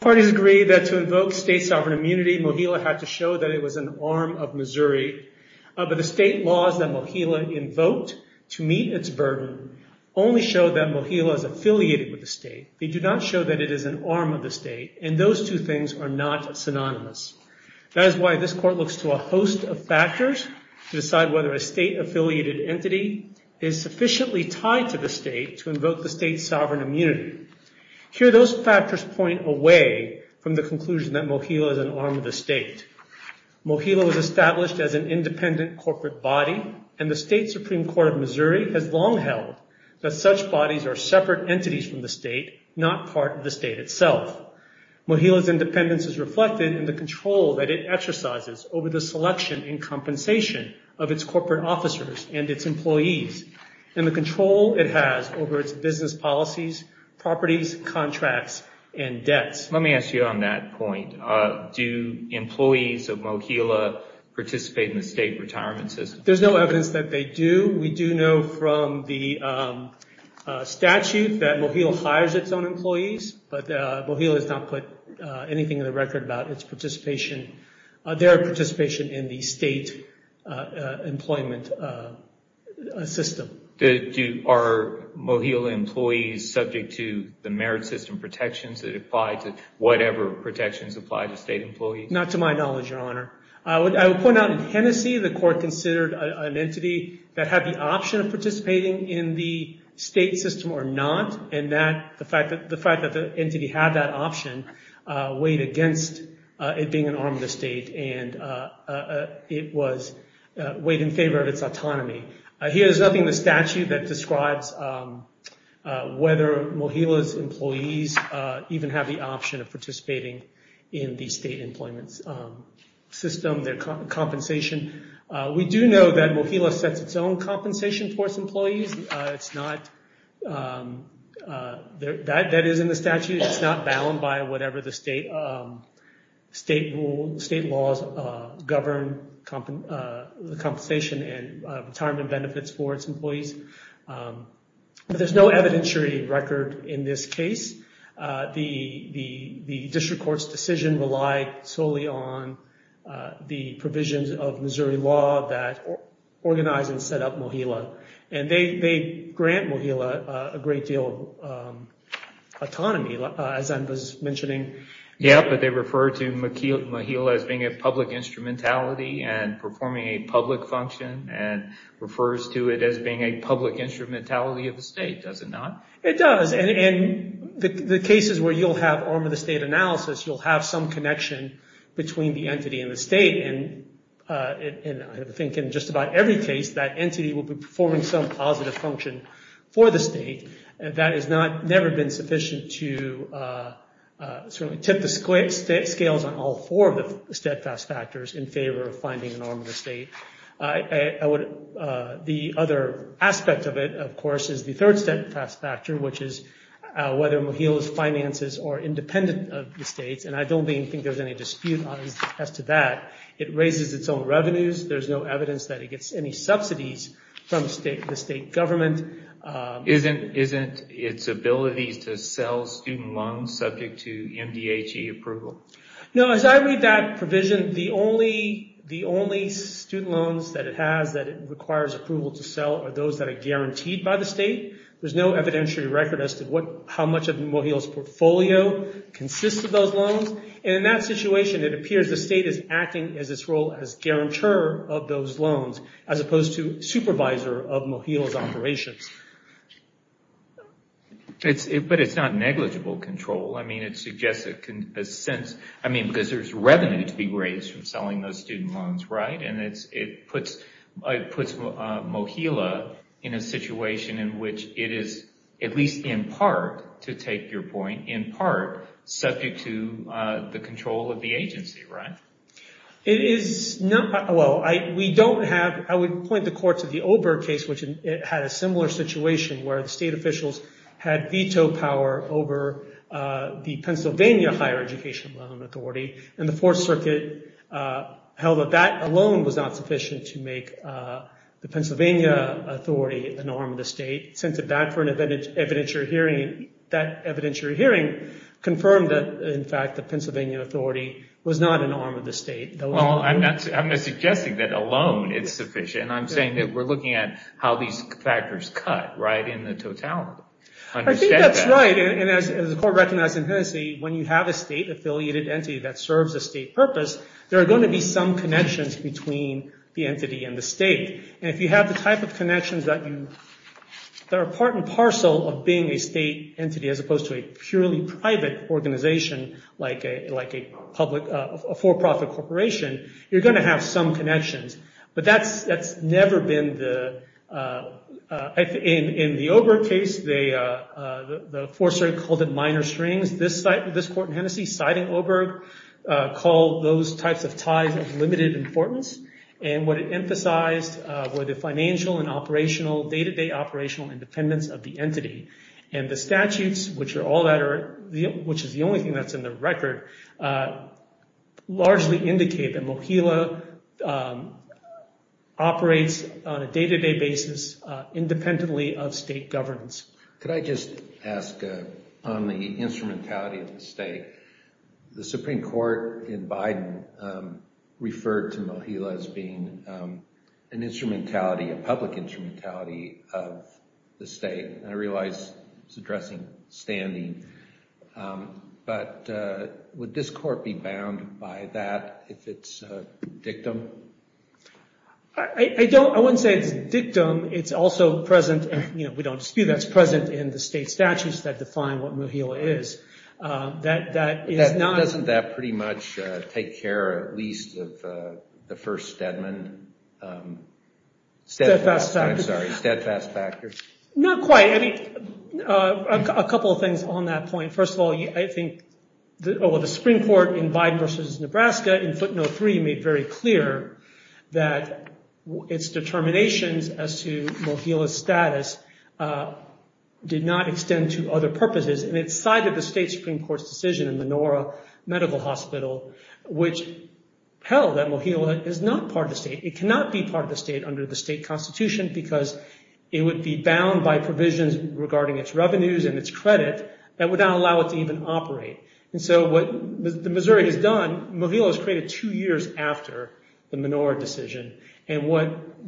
Parties agree that to invoke state sovereign immunity, Mohila had to show that it was an arm of Missouri, but the state laws that Mohila invoked to meet its burden only show that Mohila is affiliated with the state. They do not show that it is an arm of the state, and those two things are not synonymous. That is why this Court looks to a host of factors to decide whether a state-affiliated entity is sufficiently tied to the state to invoke the state's sovereign immunity. Here, those factors point away from the conclusion that Mohila is an arm of the state. Mohila was established as an independent corporate body, and the state Supreme Court of Missouri has long held that such bodies are separate entities from the state, not part of the state itself. Mohila's independence is reflected in the control that it exercises over the selection and compensation of its corporate officers and its employees, and the control it has over its business policies, properties, contracts, and debts. Let me ask you on that point. Do employees of Mohila participate in the state retirement system? There's no evidence that they do. We do know from the statute that Mohila hires its own employees, but Mohila has not put anything in the record about their participation in the state employment system. Are Mohila employees subject to the merit system protections that apply to whatever protections apply to state employees? Not to my knowledge, Your Honor. I would point out in Tennessee, the court considered an entity that had the option of participating in the state system or not, and the fact that the entity had that option weighed against it being an arm of the state, and it weighed in favor of its autonomy. Here is nothing in the statute that describes whether Mohila's employees even have the option of participating in the state employment system, their compensation. We do know that Mohila sets its own compensation for its employees. That is in the statute. It's not bound by whatever the state laws govern the compensation and retirement benefits for its employees. There's no evidentiary record in this case. The district court's decision relied solely on the provisions of Missouri law that organized and set up Mohila. They grant Mohila a great deal of autonomy, as I was mentioning. Yeah, but they refer to Mohila as being a public instrumentality and performing a public function and refers to it as being a public instrumentality of the state, does it not? It does. In the cases where you'll have arm of the state analysis, you'll have some connection between the entity and the state, and I think in just about every case, that entity will be performing some positive function for the state. That has never been sufficient to tip the scales on all four of the steadfast factors in favor of finding an arm of the state. The other aspect of it, of course, is the third steadfast factor, which is whether Mohila's finances are independent of the state's, and I don't think there's any dispute as to that. It raises its own revenues. There's no evidence that it gets any subsidies from the state government. Isn't its ability to sell student loans subject to MDHE approval? No, as I read that provision, the only student loans that it has that it requires approval to sell are those that are guaranteed by the state. There's no evidentiary record as to how much of Mohila's portfolio consists of those loans, and in that situation, it appears the state is acting as its role as guarantor of those loans, as opposed to supervisor of Mohila's operations. But it's not negligible control. I mean, it suggests a sense, I mean, because there's revenue to be raised from selling those student loans, right? And it puts Mohila in a situation in which it is, at least in part, to take your point, in part, subject to the control of the agency, right? It is not, well, we don't have, I would point the court to the Oberg case, which had a similar situation where the state officials had veto power over the Pennsylvania Higher Education Loan Authority, and the Fourth Circuit held that that alone was not sufficient to make the Pennsylvania authority the norm of the state, sent it back for an evidentiary hearing, that evidentiary hearing confirmed that, in fact, the Pennsylvania authority was not an arm of the state. Well, I'm not suggesting that alone is sufficient. I'm saying that we're looking at how these factors cut, right, in the totality. I think that's right, and as the court recognized in Tennessee, when you have a state-affiliated entity that serves a state purpose, there are going to be some connections between the entity and the state, and if you have the type of connections that you, that are part and parcel of being a state entity, as opposed to a purely private organization, like a public, a for-profit corporation, you're going to have some connections. But that's never been the, in the Oberg case, the Fourth Circuit called it minor strings. This court in Hennessey, citing Oberg, called those types of ties of limited importance, and what it emphasized were the financial and operational, day-to-day operational independence of the entity, and the statutes, which are all that are, which is the only thing that's in the record, largely indicate that MOHILA operates on a day-to-day basis independently of state governance. Could I just ask, on the instrumentality of the state, the Supreme Court in Biden referred to MOHILA as being an instrumentality, a public instrumentality of the state, and I realize it's addressing standing, but would this court be bound by that if it's a dictum? I don't, I wouldn't say it's a dictum, it's also present, and we don't dispute that, it's present in the state statutes that define what MOHILA is. Doesn't that pretty much take care, at least, of the first Stedman, I'm sorry, steadfast factors? Not quite. I mean, a couple of things on that point. First of all, I think, well, the Supreme Court in Biden versus Nebraska, in footnote three, made very clear that its determinations as to MOHILA's status did not extend to other purposes, and it cited the state Supreme Court's decision in Menorah Medical Hospital, which held that MOHILA is not part of the state. It cannot be part of the state under the state constitution because it would be bound by provisions regarding its revenues and its credit that would not allow it to even operate. And so what Missouri has done, MOHILA was created two years after the Menorah decision, and what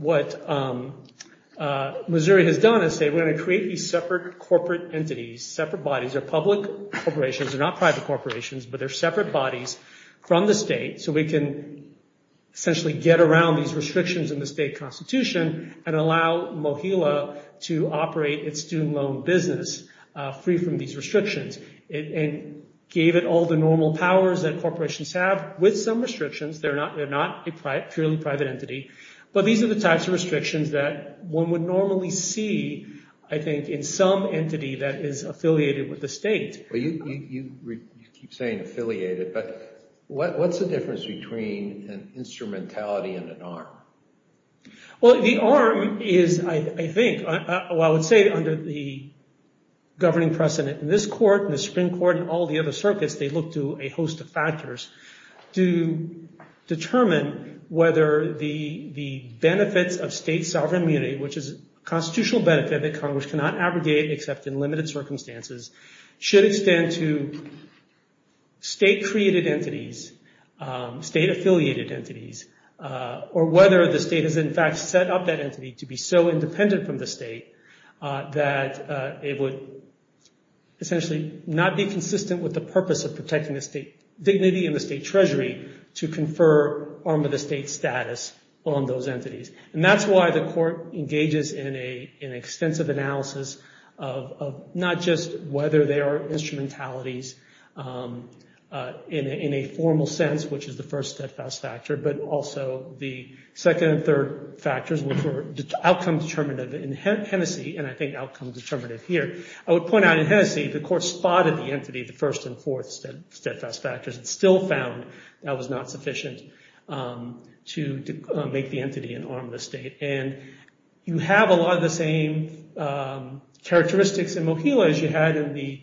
Missouri has done is say, we're going to create these separate corporate entities, separate bodies, they're public corporations, they're not private corporations, but they're separate bodies from the state so we can essentially get around these restrictions in the state constitution and allow MOHILA to operate its student loan business free from these restrictions. It gave it all the normal powers that corporations have with some restrictions. They're not a purely private entity, but these are the types of restrictions that one would normally see, I think, in some entity that is affiliated with the state. You keep saying affiliated, but what's the difference between an instrumentality and an arm? Well, the arm is, I think, I would say under the governing precedent in this court and the Supreme Court and all the other circuits, they look to a host of factors to determine whether the benefits of state sovereign immunity, which is a constitutional benefit that Congress cannot abrogate except in limited circumstances, should extend to state-created entities, state-affiliated entities, or whether the state has in fact set up that entity to be so independent from the state that it would essentially not be consistent with the purpose of protecting the state dignity and the state treasury to confer arm of the state status on those entities. And that's why the court engages in an extensive analysis of not just whether there are instrumentalities in a formal sense, which is the first steadfast factor, but also the second and third factors, which were outcome determinative in Hennessey and I think outcome determinative here. I would point out in Hennessey the court spotted the entity, the first and fourth steadfast factors, and still found that was not sufficient to make the entity an arm of the state. And you have a lot of the same characteristics in Mohio as you had in the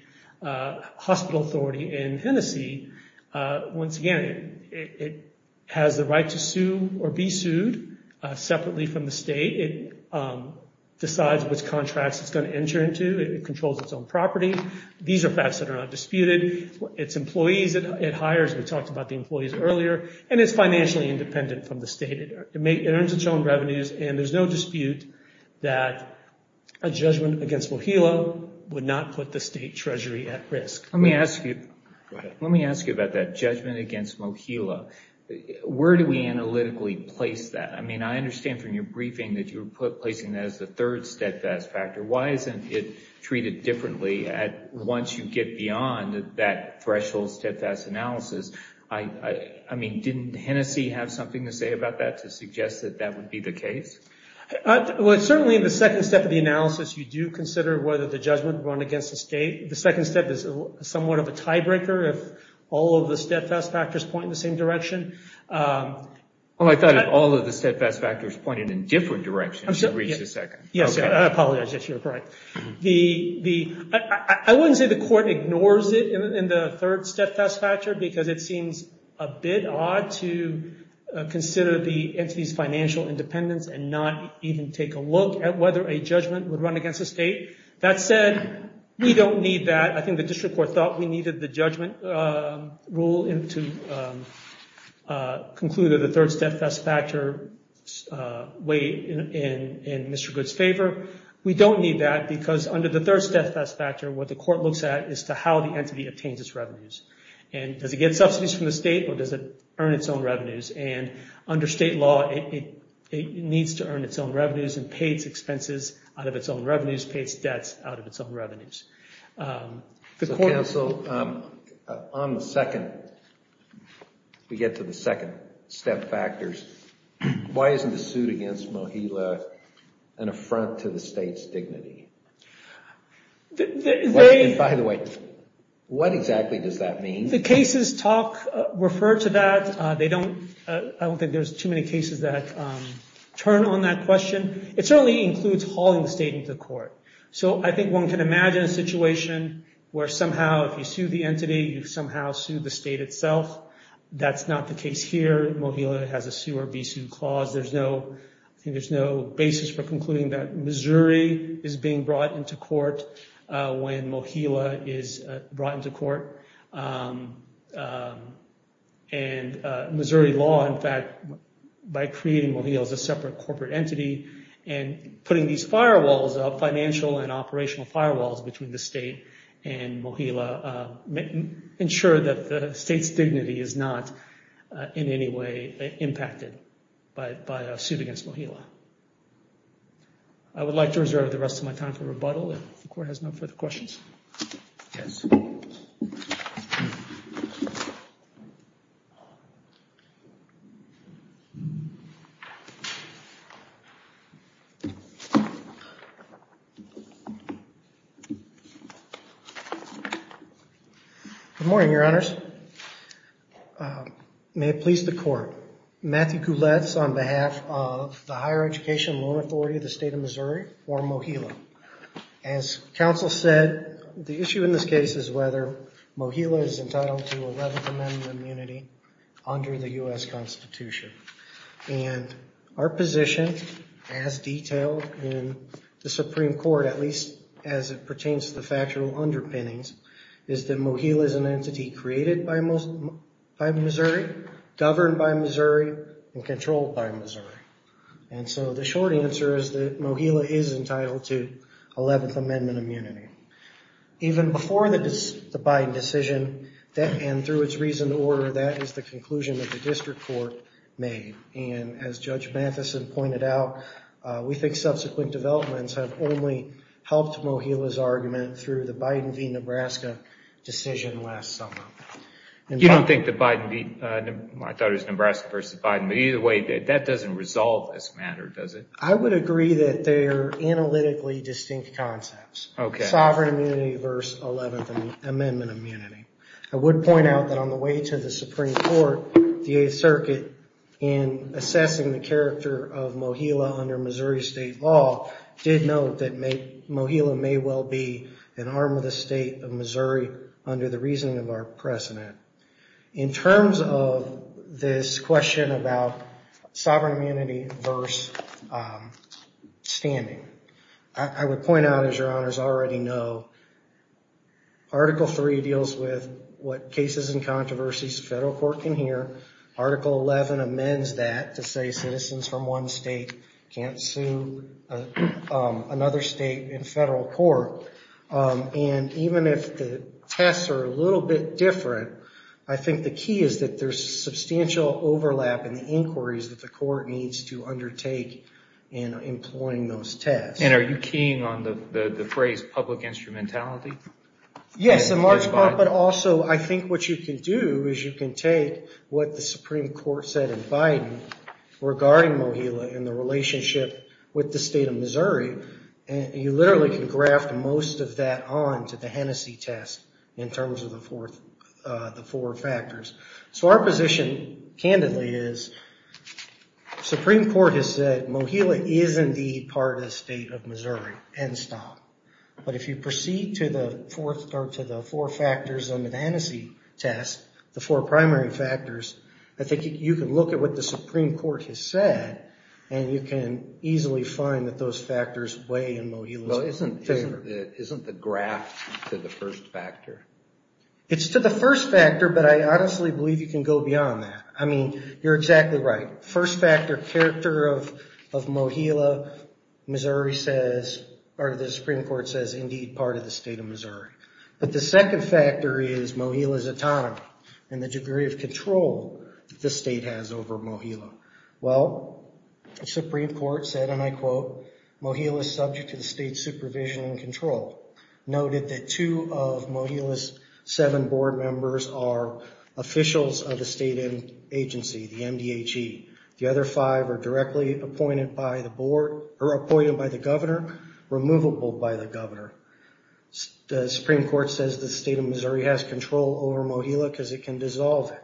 hospital authority in Hennessey. Once again, it has the right to sue or be sued separately from the state. It decides which contracts it's going to enter into. It controls its own property. These are facts that are not disputed. It's employees it hires. We talked about the employees earlier. And it's financially independent from the state. It earns its own revenues, and there's no dispute that a judgment against Mohio would not put the state treasury at risk. Let me ask you about that judgment against Mohio. Where do we analytically place that? I mean, I understand from your briefing that you're placing that as the third steadfast factor. Why isn't it treated differently once you get beyond that threshold steadfast analysis? I mean, didn't Hennessey have something to say about that to suggest that that would be the case? Well, certainly in the second step of the analysis, you do consider whether the judgment run against the state. The second step is somewhat of a tiebreaker if all of the steadfast factors point in the same direction. Well, I thought if all of the steadfast factors pointed in different directions, you'd reach the second. Yes, I apologize. Yes, you're correct. I wouldn't say the court ignores it in the third steadfast factor because it seems a bit odd to consider the entity's financial independence and not even take a look at whether a judgment would run against the state. That said, we don't need that. I think the district court thought we needed the judgment rule to conclude that the third steadfast factor weighed in Mr. Good's favor. We don't need that because under the third steadfast factor, what the court looks at is how the entity obtains its revenues. Does it get subsidies from the state or does it earn its own revenues? Under state law, it needs to earn its own revenues and pay its expenses out of its own revenues, pay its debts out of its own revenues. So, counsel, on the second, we get to the second step factors. Why isn't the suit against Mohila an affront to the state's dignity? By the way, what exactly does that mean? The cases talk, refer to that. I don't think there's too many cases that turn on that question. It certainly includes hauling the state into court. So I think one can imagine a situation where somehow if you sue the entity, you somehow sue the state itself. That's not the case here. Mohila has a sue or be sued clause. There's no basis for concluding that Missouri is being brought into court when Mohila is brought into court. And Missouri law, in fact, by creating Mohila as a separate corporate entity and putting these firewalls, financial and operational firewalls between the state and Mohila, ensure that the state's dignity is not in any way impacted by a suit against Mohila. I would like to reserve the rest of my time for rebuttal if the court has no further questions. Yes. Good morning, Your Honors. May it please the court. Matthew Gouletz on behalf of the Higher Education and Loan Authority of the State of Missouri for Mohila. As counsel said, the issue in this case is whether Mohila is entitled to 11th Amendment immunity under the U.S. Constitution. And our position as detailed in the Supreme Court, at least as it pertains to the factual underpinnings, is that Mohila is an entity created by Missouri, governed by Missouri, and controlled by Missouri. And so the short answer is that Mohila is entitled to 11th Amendment immunity. Even before the Biden decision, and through its reason to order, that is the conclusion that the district court made. And as Judge Matheson pointed out, we think subsequent developments have only helped Mohila's argument through the Biden v. Nebraska decision last summer. You don't think that Biden, I thought it was Nebraska v. Biden, but either way, that doesn't resolve this matter, does it? I would agree that they're analytically distinct concepts. Okay. Sovereign immunity versus 11th Amendment immunity. I would point out that on the way to the Supreme Court, the Eighth Circuit, in assessing the character of Mohila under Missouri State law, did note that Mohila may well be an arm of the state of Missouri under the reasoning of our president. In terms of this question about sovereign immunity versus standing, I would point out, as your honors already know, Article III deals with what cases and controversies the federal court can hear. Article XI amends that to say citizens from one state can't sue another state in federal court. And even if the tests are a little bit different, I think the key is that there's substantial overlap in the inquiries that the court needs to undertake in employing those tests. And are you keying on the phrase public instrumentality? Yes, in large part, but also I think what you can do is you can take what the Supreme Court said in Biden regarding Mohila and the relationship with the state of Missouri, and you literally can graft most of that on to the Hennessey test in terms of the four factors. So our position, candidly, is Supreme Court has said Mohila is indeed part of the state of Missouri, end stop. But if you proceed to the four factors under the Hennessey test, the four primary factors, I think you can look at what the Supreme Court has said, and you can easily find that those factors weigh in Mohila's favor. Well, isn't the graft to the first factor? It's to the first factor, but I honestly believe you can go beyond that. I mean, you're exactly right. First factor, character of Mohila, Missouri says, or the Supreme Court says, indeed part of the state of Missouri. But the second factor is Mohila's autonomy and the degree of control the state has over Mohila. Well, the Supreme Court said, and I quote, Mohila is subject to the state's supervision and control. Noted that two of Mohila's seven board members are officials of the state agency, the MDHE. The other five are directly appointed by the board or appointed by the governor, removable by the governor. The Supreme Court says the state of Missouri has control over Mohila because it can dissolve it.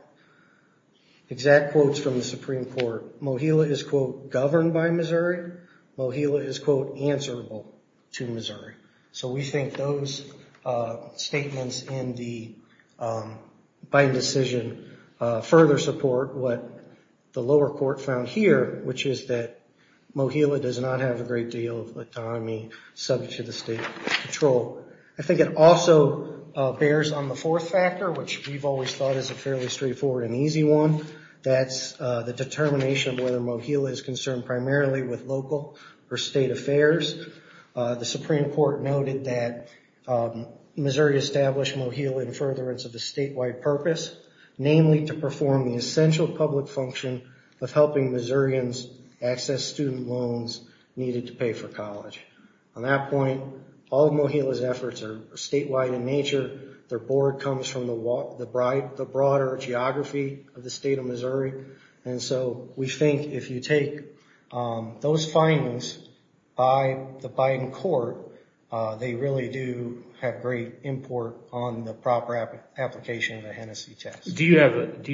Exact quotes from the Supreme Court, Mohila is, quote, governed by Missouri. Mohila is, quote, answerable to Missouri. So we think those statements in the, by decision, further support what the lower court found here, which is that Mohila does not have a great deal of autonomy subject to the state control. I think it also bears on the fourth factor, which we've always thought is a fairly straightforward and easy one. That's the determination of whether Mohila is concerned primarily with local or state affairs. The Supreme Court noted that Missouri established Mohila in furtherance of the statewide purpose, namely to perform the essential public function of helping Missourians access student loans needed to pay for college. On that point, all of Mohila's efforts are statewide in nature. Their board comes from the broader geography of the state of Missouri. And so we think if you take those findings by the Biden court, they really do have great import on the proper application of the Hennessy test. Do you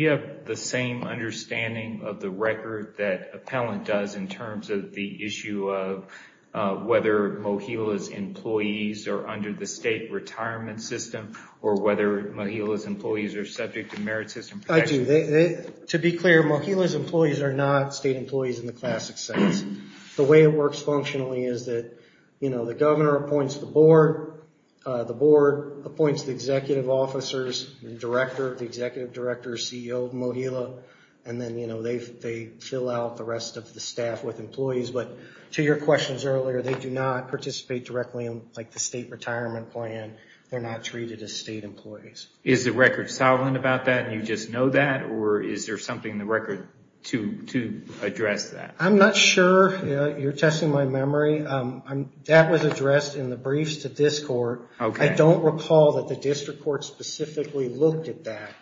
have the same understanding of the record that Appellant does in terms of the issue of whether Mohila's employees are under the state retirement system, or whether Mohila's employees are subject to merit system protections? I do. To be clear, Mohila's employees are not state employees in the classic sense. The way it works functionally is that the governor appoints the board. The board appoints the executive officers, the director, the executive director, CEO of Mohila. And then they fill out the rest of the staff with employees. But to your questions earlier, they do not participate directly in the state retirement plan. They're not treated as state employees. Is the record solid about that, and you just know that? Or is there something in the record to address that? I'm not sure. You're testing my memory. That was addressed in the briefs to this court. I don't recall that the district court specifically looked at that.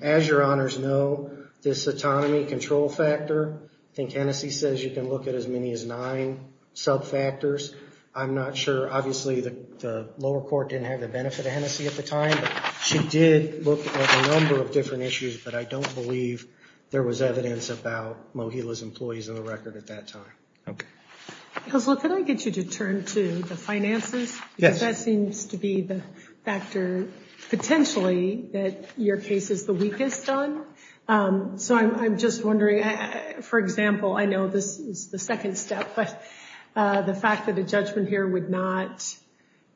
As your honors know, this autonomy control factor, I think Hennessy says you can look at as many as nine sub factors. I'm not sure. Obviously, the lower court didn't have the benefit of Hennessy at the time. She did look at a number of different issues, but I don't believe there was evidence about Mohila's employees in the record at that time. Okay. Counselor, can I get you to turn to the finances? Yes. Because that seems to be the factor potentially that your case is the weakest on. So I'm just wondering, for example, I know this is the second step, but the fact that a judgment here would not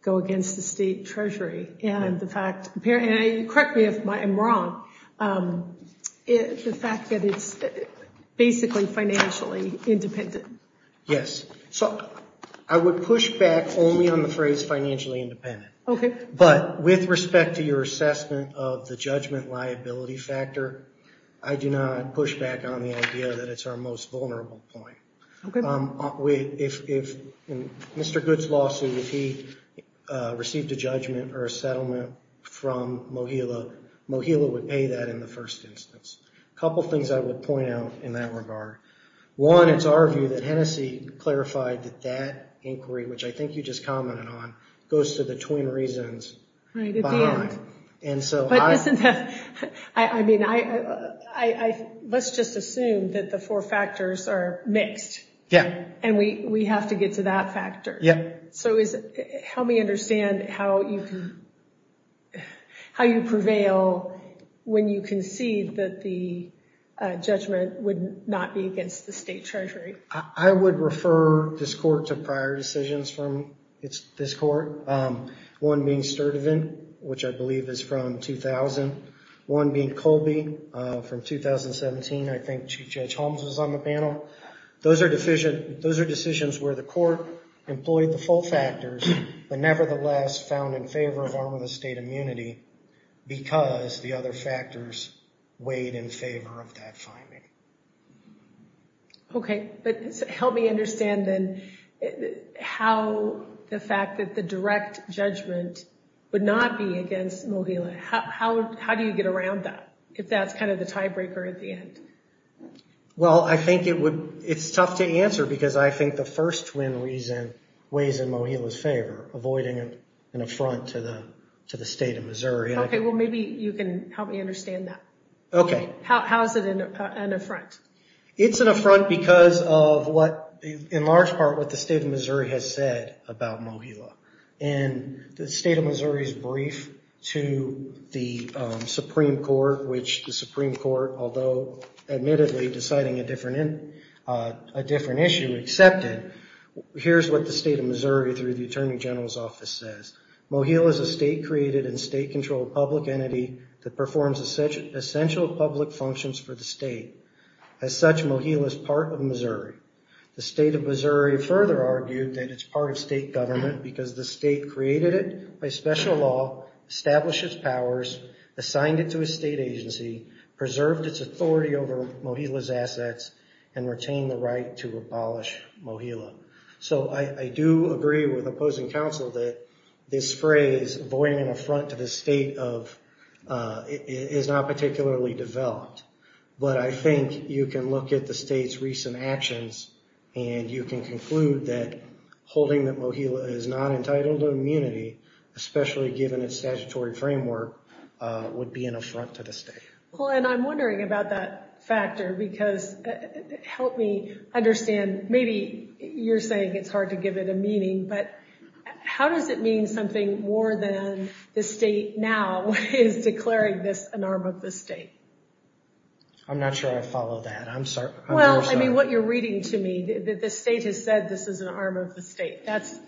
go against the state treasury and the fact, correct me if I'm wrong, the fact that it's basically financially independent. Yes. So I would push back only on the phrase financially independent. Okay. But with respect to your assessment of the judgment liability factor, I do not push back on the idea that it's our most vulnerable point. If Mr. Good's lawsuit, if he received a judgment or a settlement from Mohila, Mohila would pay that in the first instance. A couple of things I would point out in that regard. One, it's our view that Hennessy clarified that that inquiry, which I think you just commented on, goes to the twin reasons behind. But I mean, let's just assume that the four factors are mixed. Yeah. And we have to get to that factor. Yeah. So help me understand how you prevail when you concede that the judgment would not be against the state treasury. I would refer this court to prior decisions from this court. One being Sturdivant, which I believe is from 2000. One being Colby from 2017. I think Chief Judge Holmes was on the panel. Those are decisions where the court employed the full factors, but nevertheless found in favor of arm of the state immunity because the other factors weighed in favor of that finding. Okay. But help me understand then how the fact that the direct judgment would not be against Mohila, how do you get around that if that's kind of the tiebreaker at the end? Well, I think it's tough to answer because I think the first twin reason weighs in Mohila's favor, avoiding an affront to the state of Missouri. Okay. Well, maybe you can help me understand that. Okay. How is it an affront? It's an affront because of what, in large part, what the state of Missouri has said about Mohila. In the state of Missouri's brief to the Supreme Court, which the Supreme Court, although admittedly deciding a different issue, accepted, here's what the state of Missouri through the Attorney General's office says. Mohila is a state-created and state-controlled public entity that performs essential public functions for the state. As such, Mohila is part of Missouri. The state of Missouri further argued that it's part of state government because the state created it by special law, established its powers, assigned it to a state agency, preserved its authority over Mohila's assets, and retained the right to abolish Mohila. So I do agree with opposing counsel that this phrase, avoiding an affront to the state, is not particularly developed. But I think you can look at the state's recent actions and you can conclude that holding that Mohila is not entitled to immunity, especially given its statutory framework, would be an affront to the state. Well, and I'm wondering about that factor because, help me understand, maybe you're saying it's hard to give it a meaning, but how does it mean something more than the state now is declaring this an arm of the state? I'm not sure I follow that. I'm sorry. Well, I mean, what you're reading to me, the state has said this is an arm of the state. That's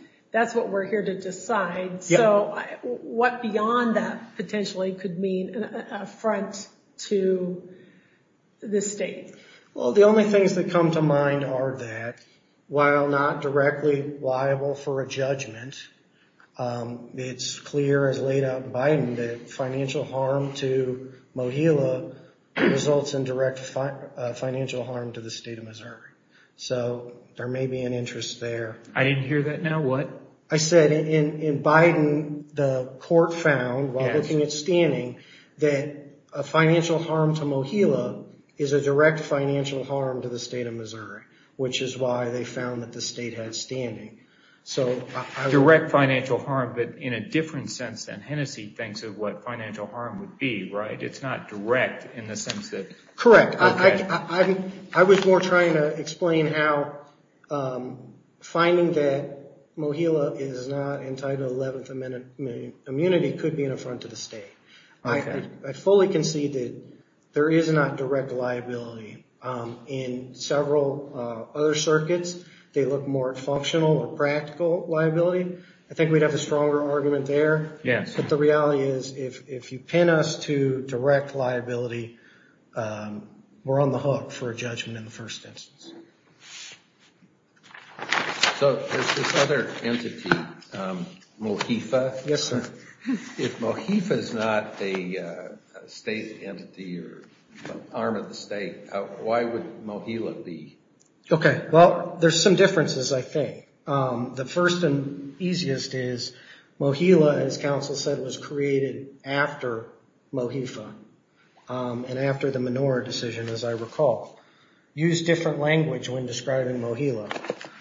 what we're here to decide. So what beyond that potentially could mean an affront to the state? Well, the only things that come to mind are that while not directly liable for a judgment, it's clear as laid out in Biden that financial harm to Mohila results in direct financial harm to the state of Missouri. So there may be an interest there. I didn't hear that. Now what? I said in Biden, the court found, while looking at standing, that a financial harm to Mohila is a direct financial harm to the state of Missouri, which is why they found that the state had standing. Direct financial harm, but in a different sense than Hennessy thinks of what financial harm would be, right? It's not direct in the sense that... Correct. I was more trying to explain how finding that Mohila is not entitled to 11th amendment immunity could be an affront to the state. I fully concede that there is not direct liability in several other circuits. They look more functional or practical liability. I think we'd have a stronger argument there. But the reality is, if you pin us to direct liability, we're on the hook for a judgment in the first instance. So there's this other entity, MOHIFA. Yes, sir. If MOHIFA is not a state entity or arm of the state, why would Mohila be? OK, well, there's some differences, I think. The first and easiest is, MOHILA, as counsel said, was created after MOHIFA and after the Menorah decision, as I recall. Used different language when describing MOHILA.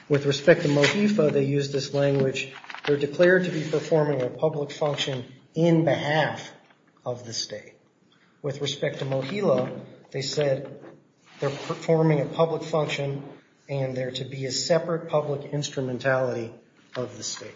With respect to MOHIFA, they used this language, they're declared to be performing a public function in behalf of the state. With respect to MOHILA, they said they're performing a public function and they're to be a separate public instrumentality of the state.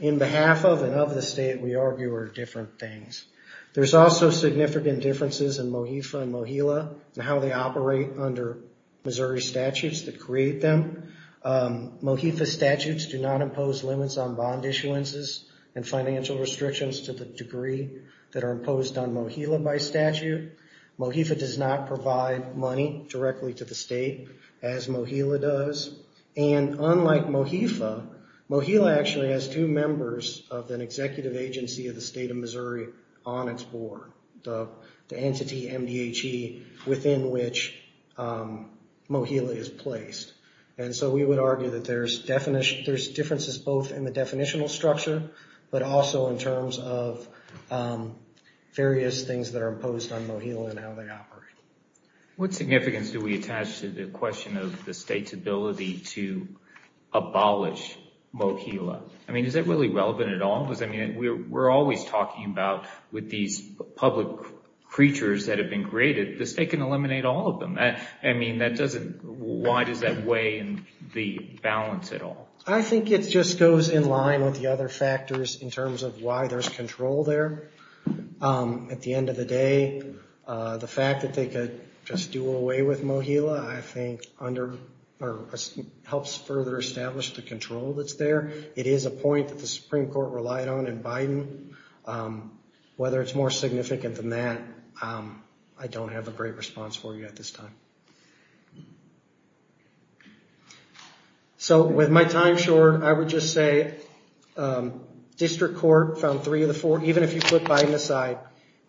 In behalf of and of the state, we argue are different things. There's also significant differences in MOHIFA and MOHILA and how they operate under Missouri statutes that create them. MOHIFA statutes do not impose limits on bond issuances and financial restrictions to the degree that are imposed on MOHILA by statute. MOHILA does not provide money directly to the state as MOHILA does. And unlike MOHILA, MOHILA actually has two members of an executive agency of the state of Missouri on its board. The entity MDHE within which MOHILA is placed. And so we would argue that there's differences both in the definitional structure but also in terms of various things that are imposed on MOHILA and how they operate. What significance do we attach to the question of the state's ability to abolish MOHILA? I mean, is that really relevant at all? We're always talking about with these public creatures that have been created, the state can eliminate all of them. I mean, why does that weigh in the balance at all? I think it just goes in line with the other factors in terms of why there's control there. At the end of the day, the fact that they could just do away with MOHILA, I think helps further establish the control that's there. It is a point that the Supreme Court relied on in Biden. Whether it's more significant than that, I don't have a great response for you at this time. So with my time short, I would just say district court found three of the four. Even if you put Biden aside,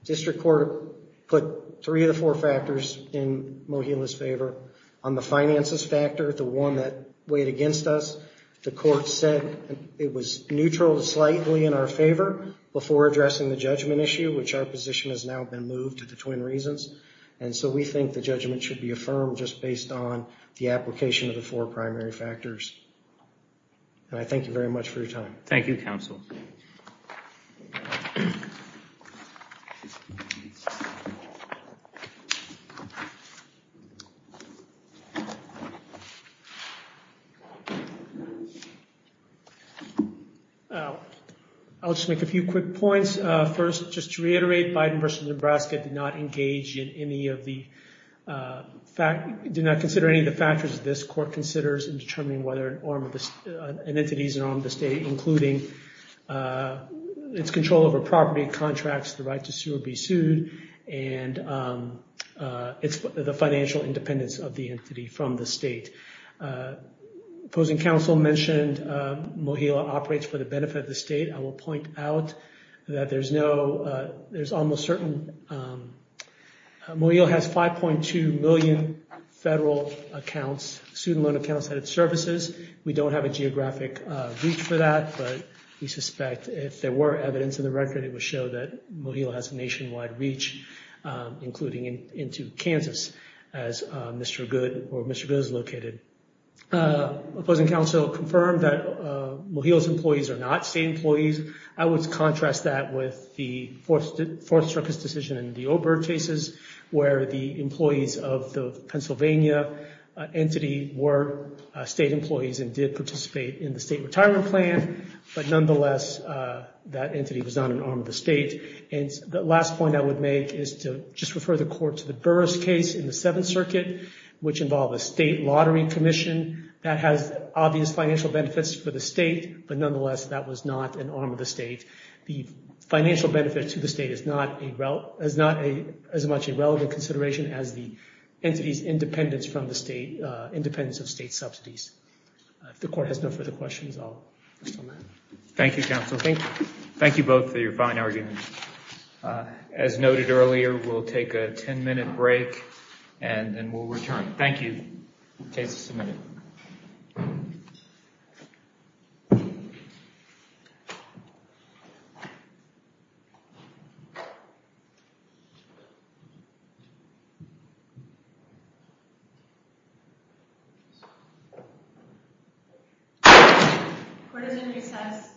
district court put three of the four factors in MOHILA's favor. On the finances factor, the one that weighed against us, the court said it was neutral to slightly in our favor before addressing the judgment issue, which our position has now been moved to the twin reasons. And so we think the judgment should be affirmed just based on the application of the four primary factors. And I thank you very much for your time. Thank you, counsel. I'll just make a few quick points. First, just to reiterate, Biden versus Nebraska did not engage in any of the fact, did not consider any of the factors this court considers in determining whether an entity is an arm of the state, including its control over property, contracts, the right to sue or be sued, and the financial independence of the entity from the state. Opposing counsel mentioned MOHILA operates for the benefit of the state. I will point out that there's no, there's almost certain, MOHILA has 5.2 million federal accounts, student loan accounts, that it services. We don't have a geographic reach for that, but we suspect if there were evidence in the record, it would show that MOHILA has a nationwide reach, including into Kansas, as Mr. Good or Mr. Good is located. Opposing counsel confirmed that MOHILA's employees are not state employees. I would contrast that with the Fourth Circuit's decision in the Oberg cases, where the employees of the Pennsylvania entity were state employees and did participate in the state retirement plan, but nonetheless, that entity was not an arm of the state. And the last point I would make is to just refer the court to the Burris case in the Seventh Circuit, which involved a state lottery commission that has obvious financial benefits for the state, but nonetheless, that was not an arm of the state. The financial benefit to the state is not as much a relevant consideration as the entity's independence from the state, independence of state subsidies. If the court has no further questions, I'll stop there. Thank you, counsel. Thank you both for your fine arguments. As noted earlier, we'll take a ten-minute break and then we'll return. Thank you. Case is submitted. Court is in recess. Thank you.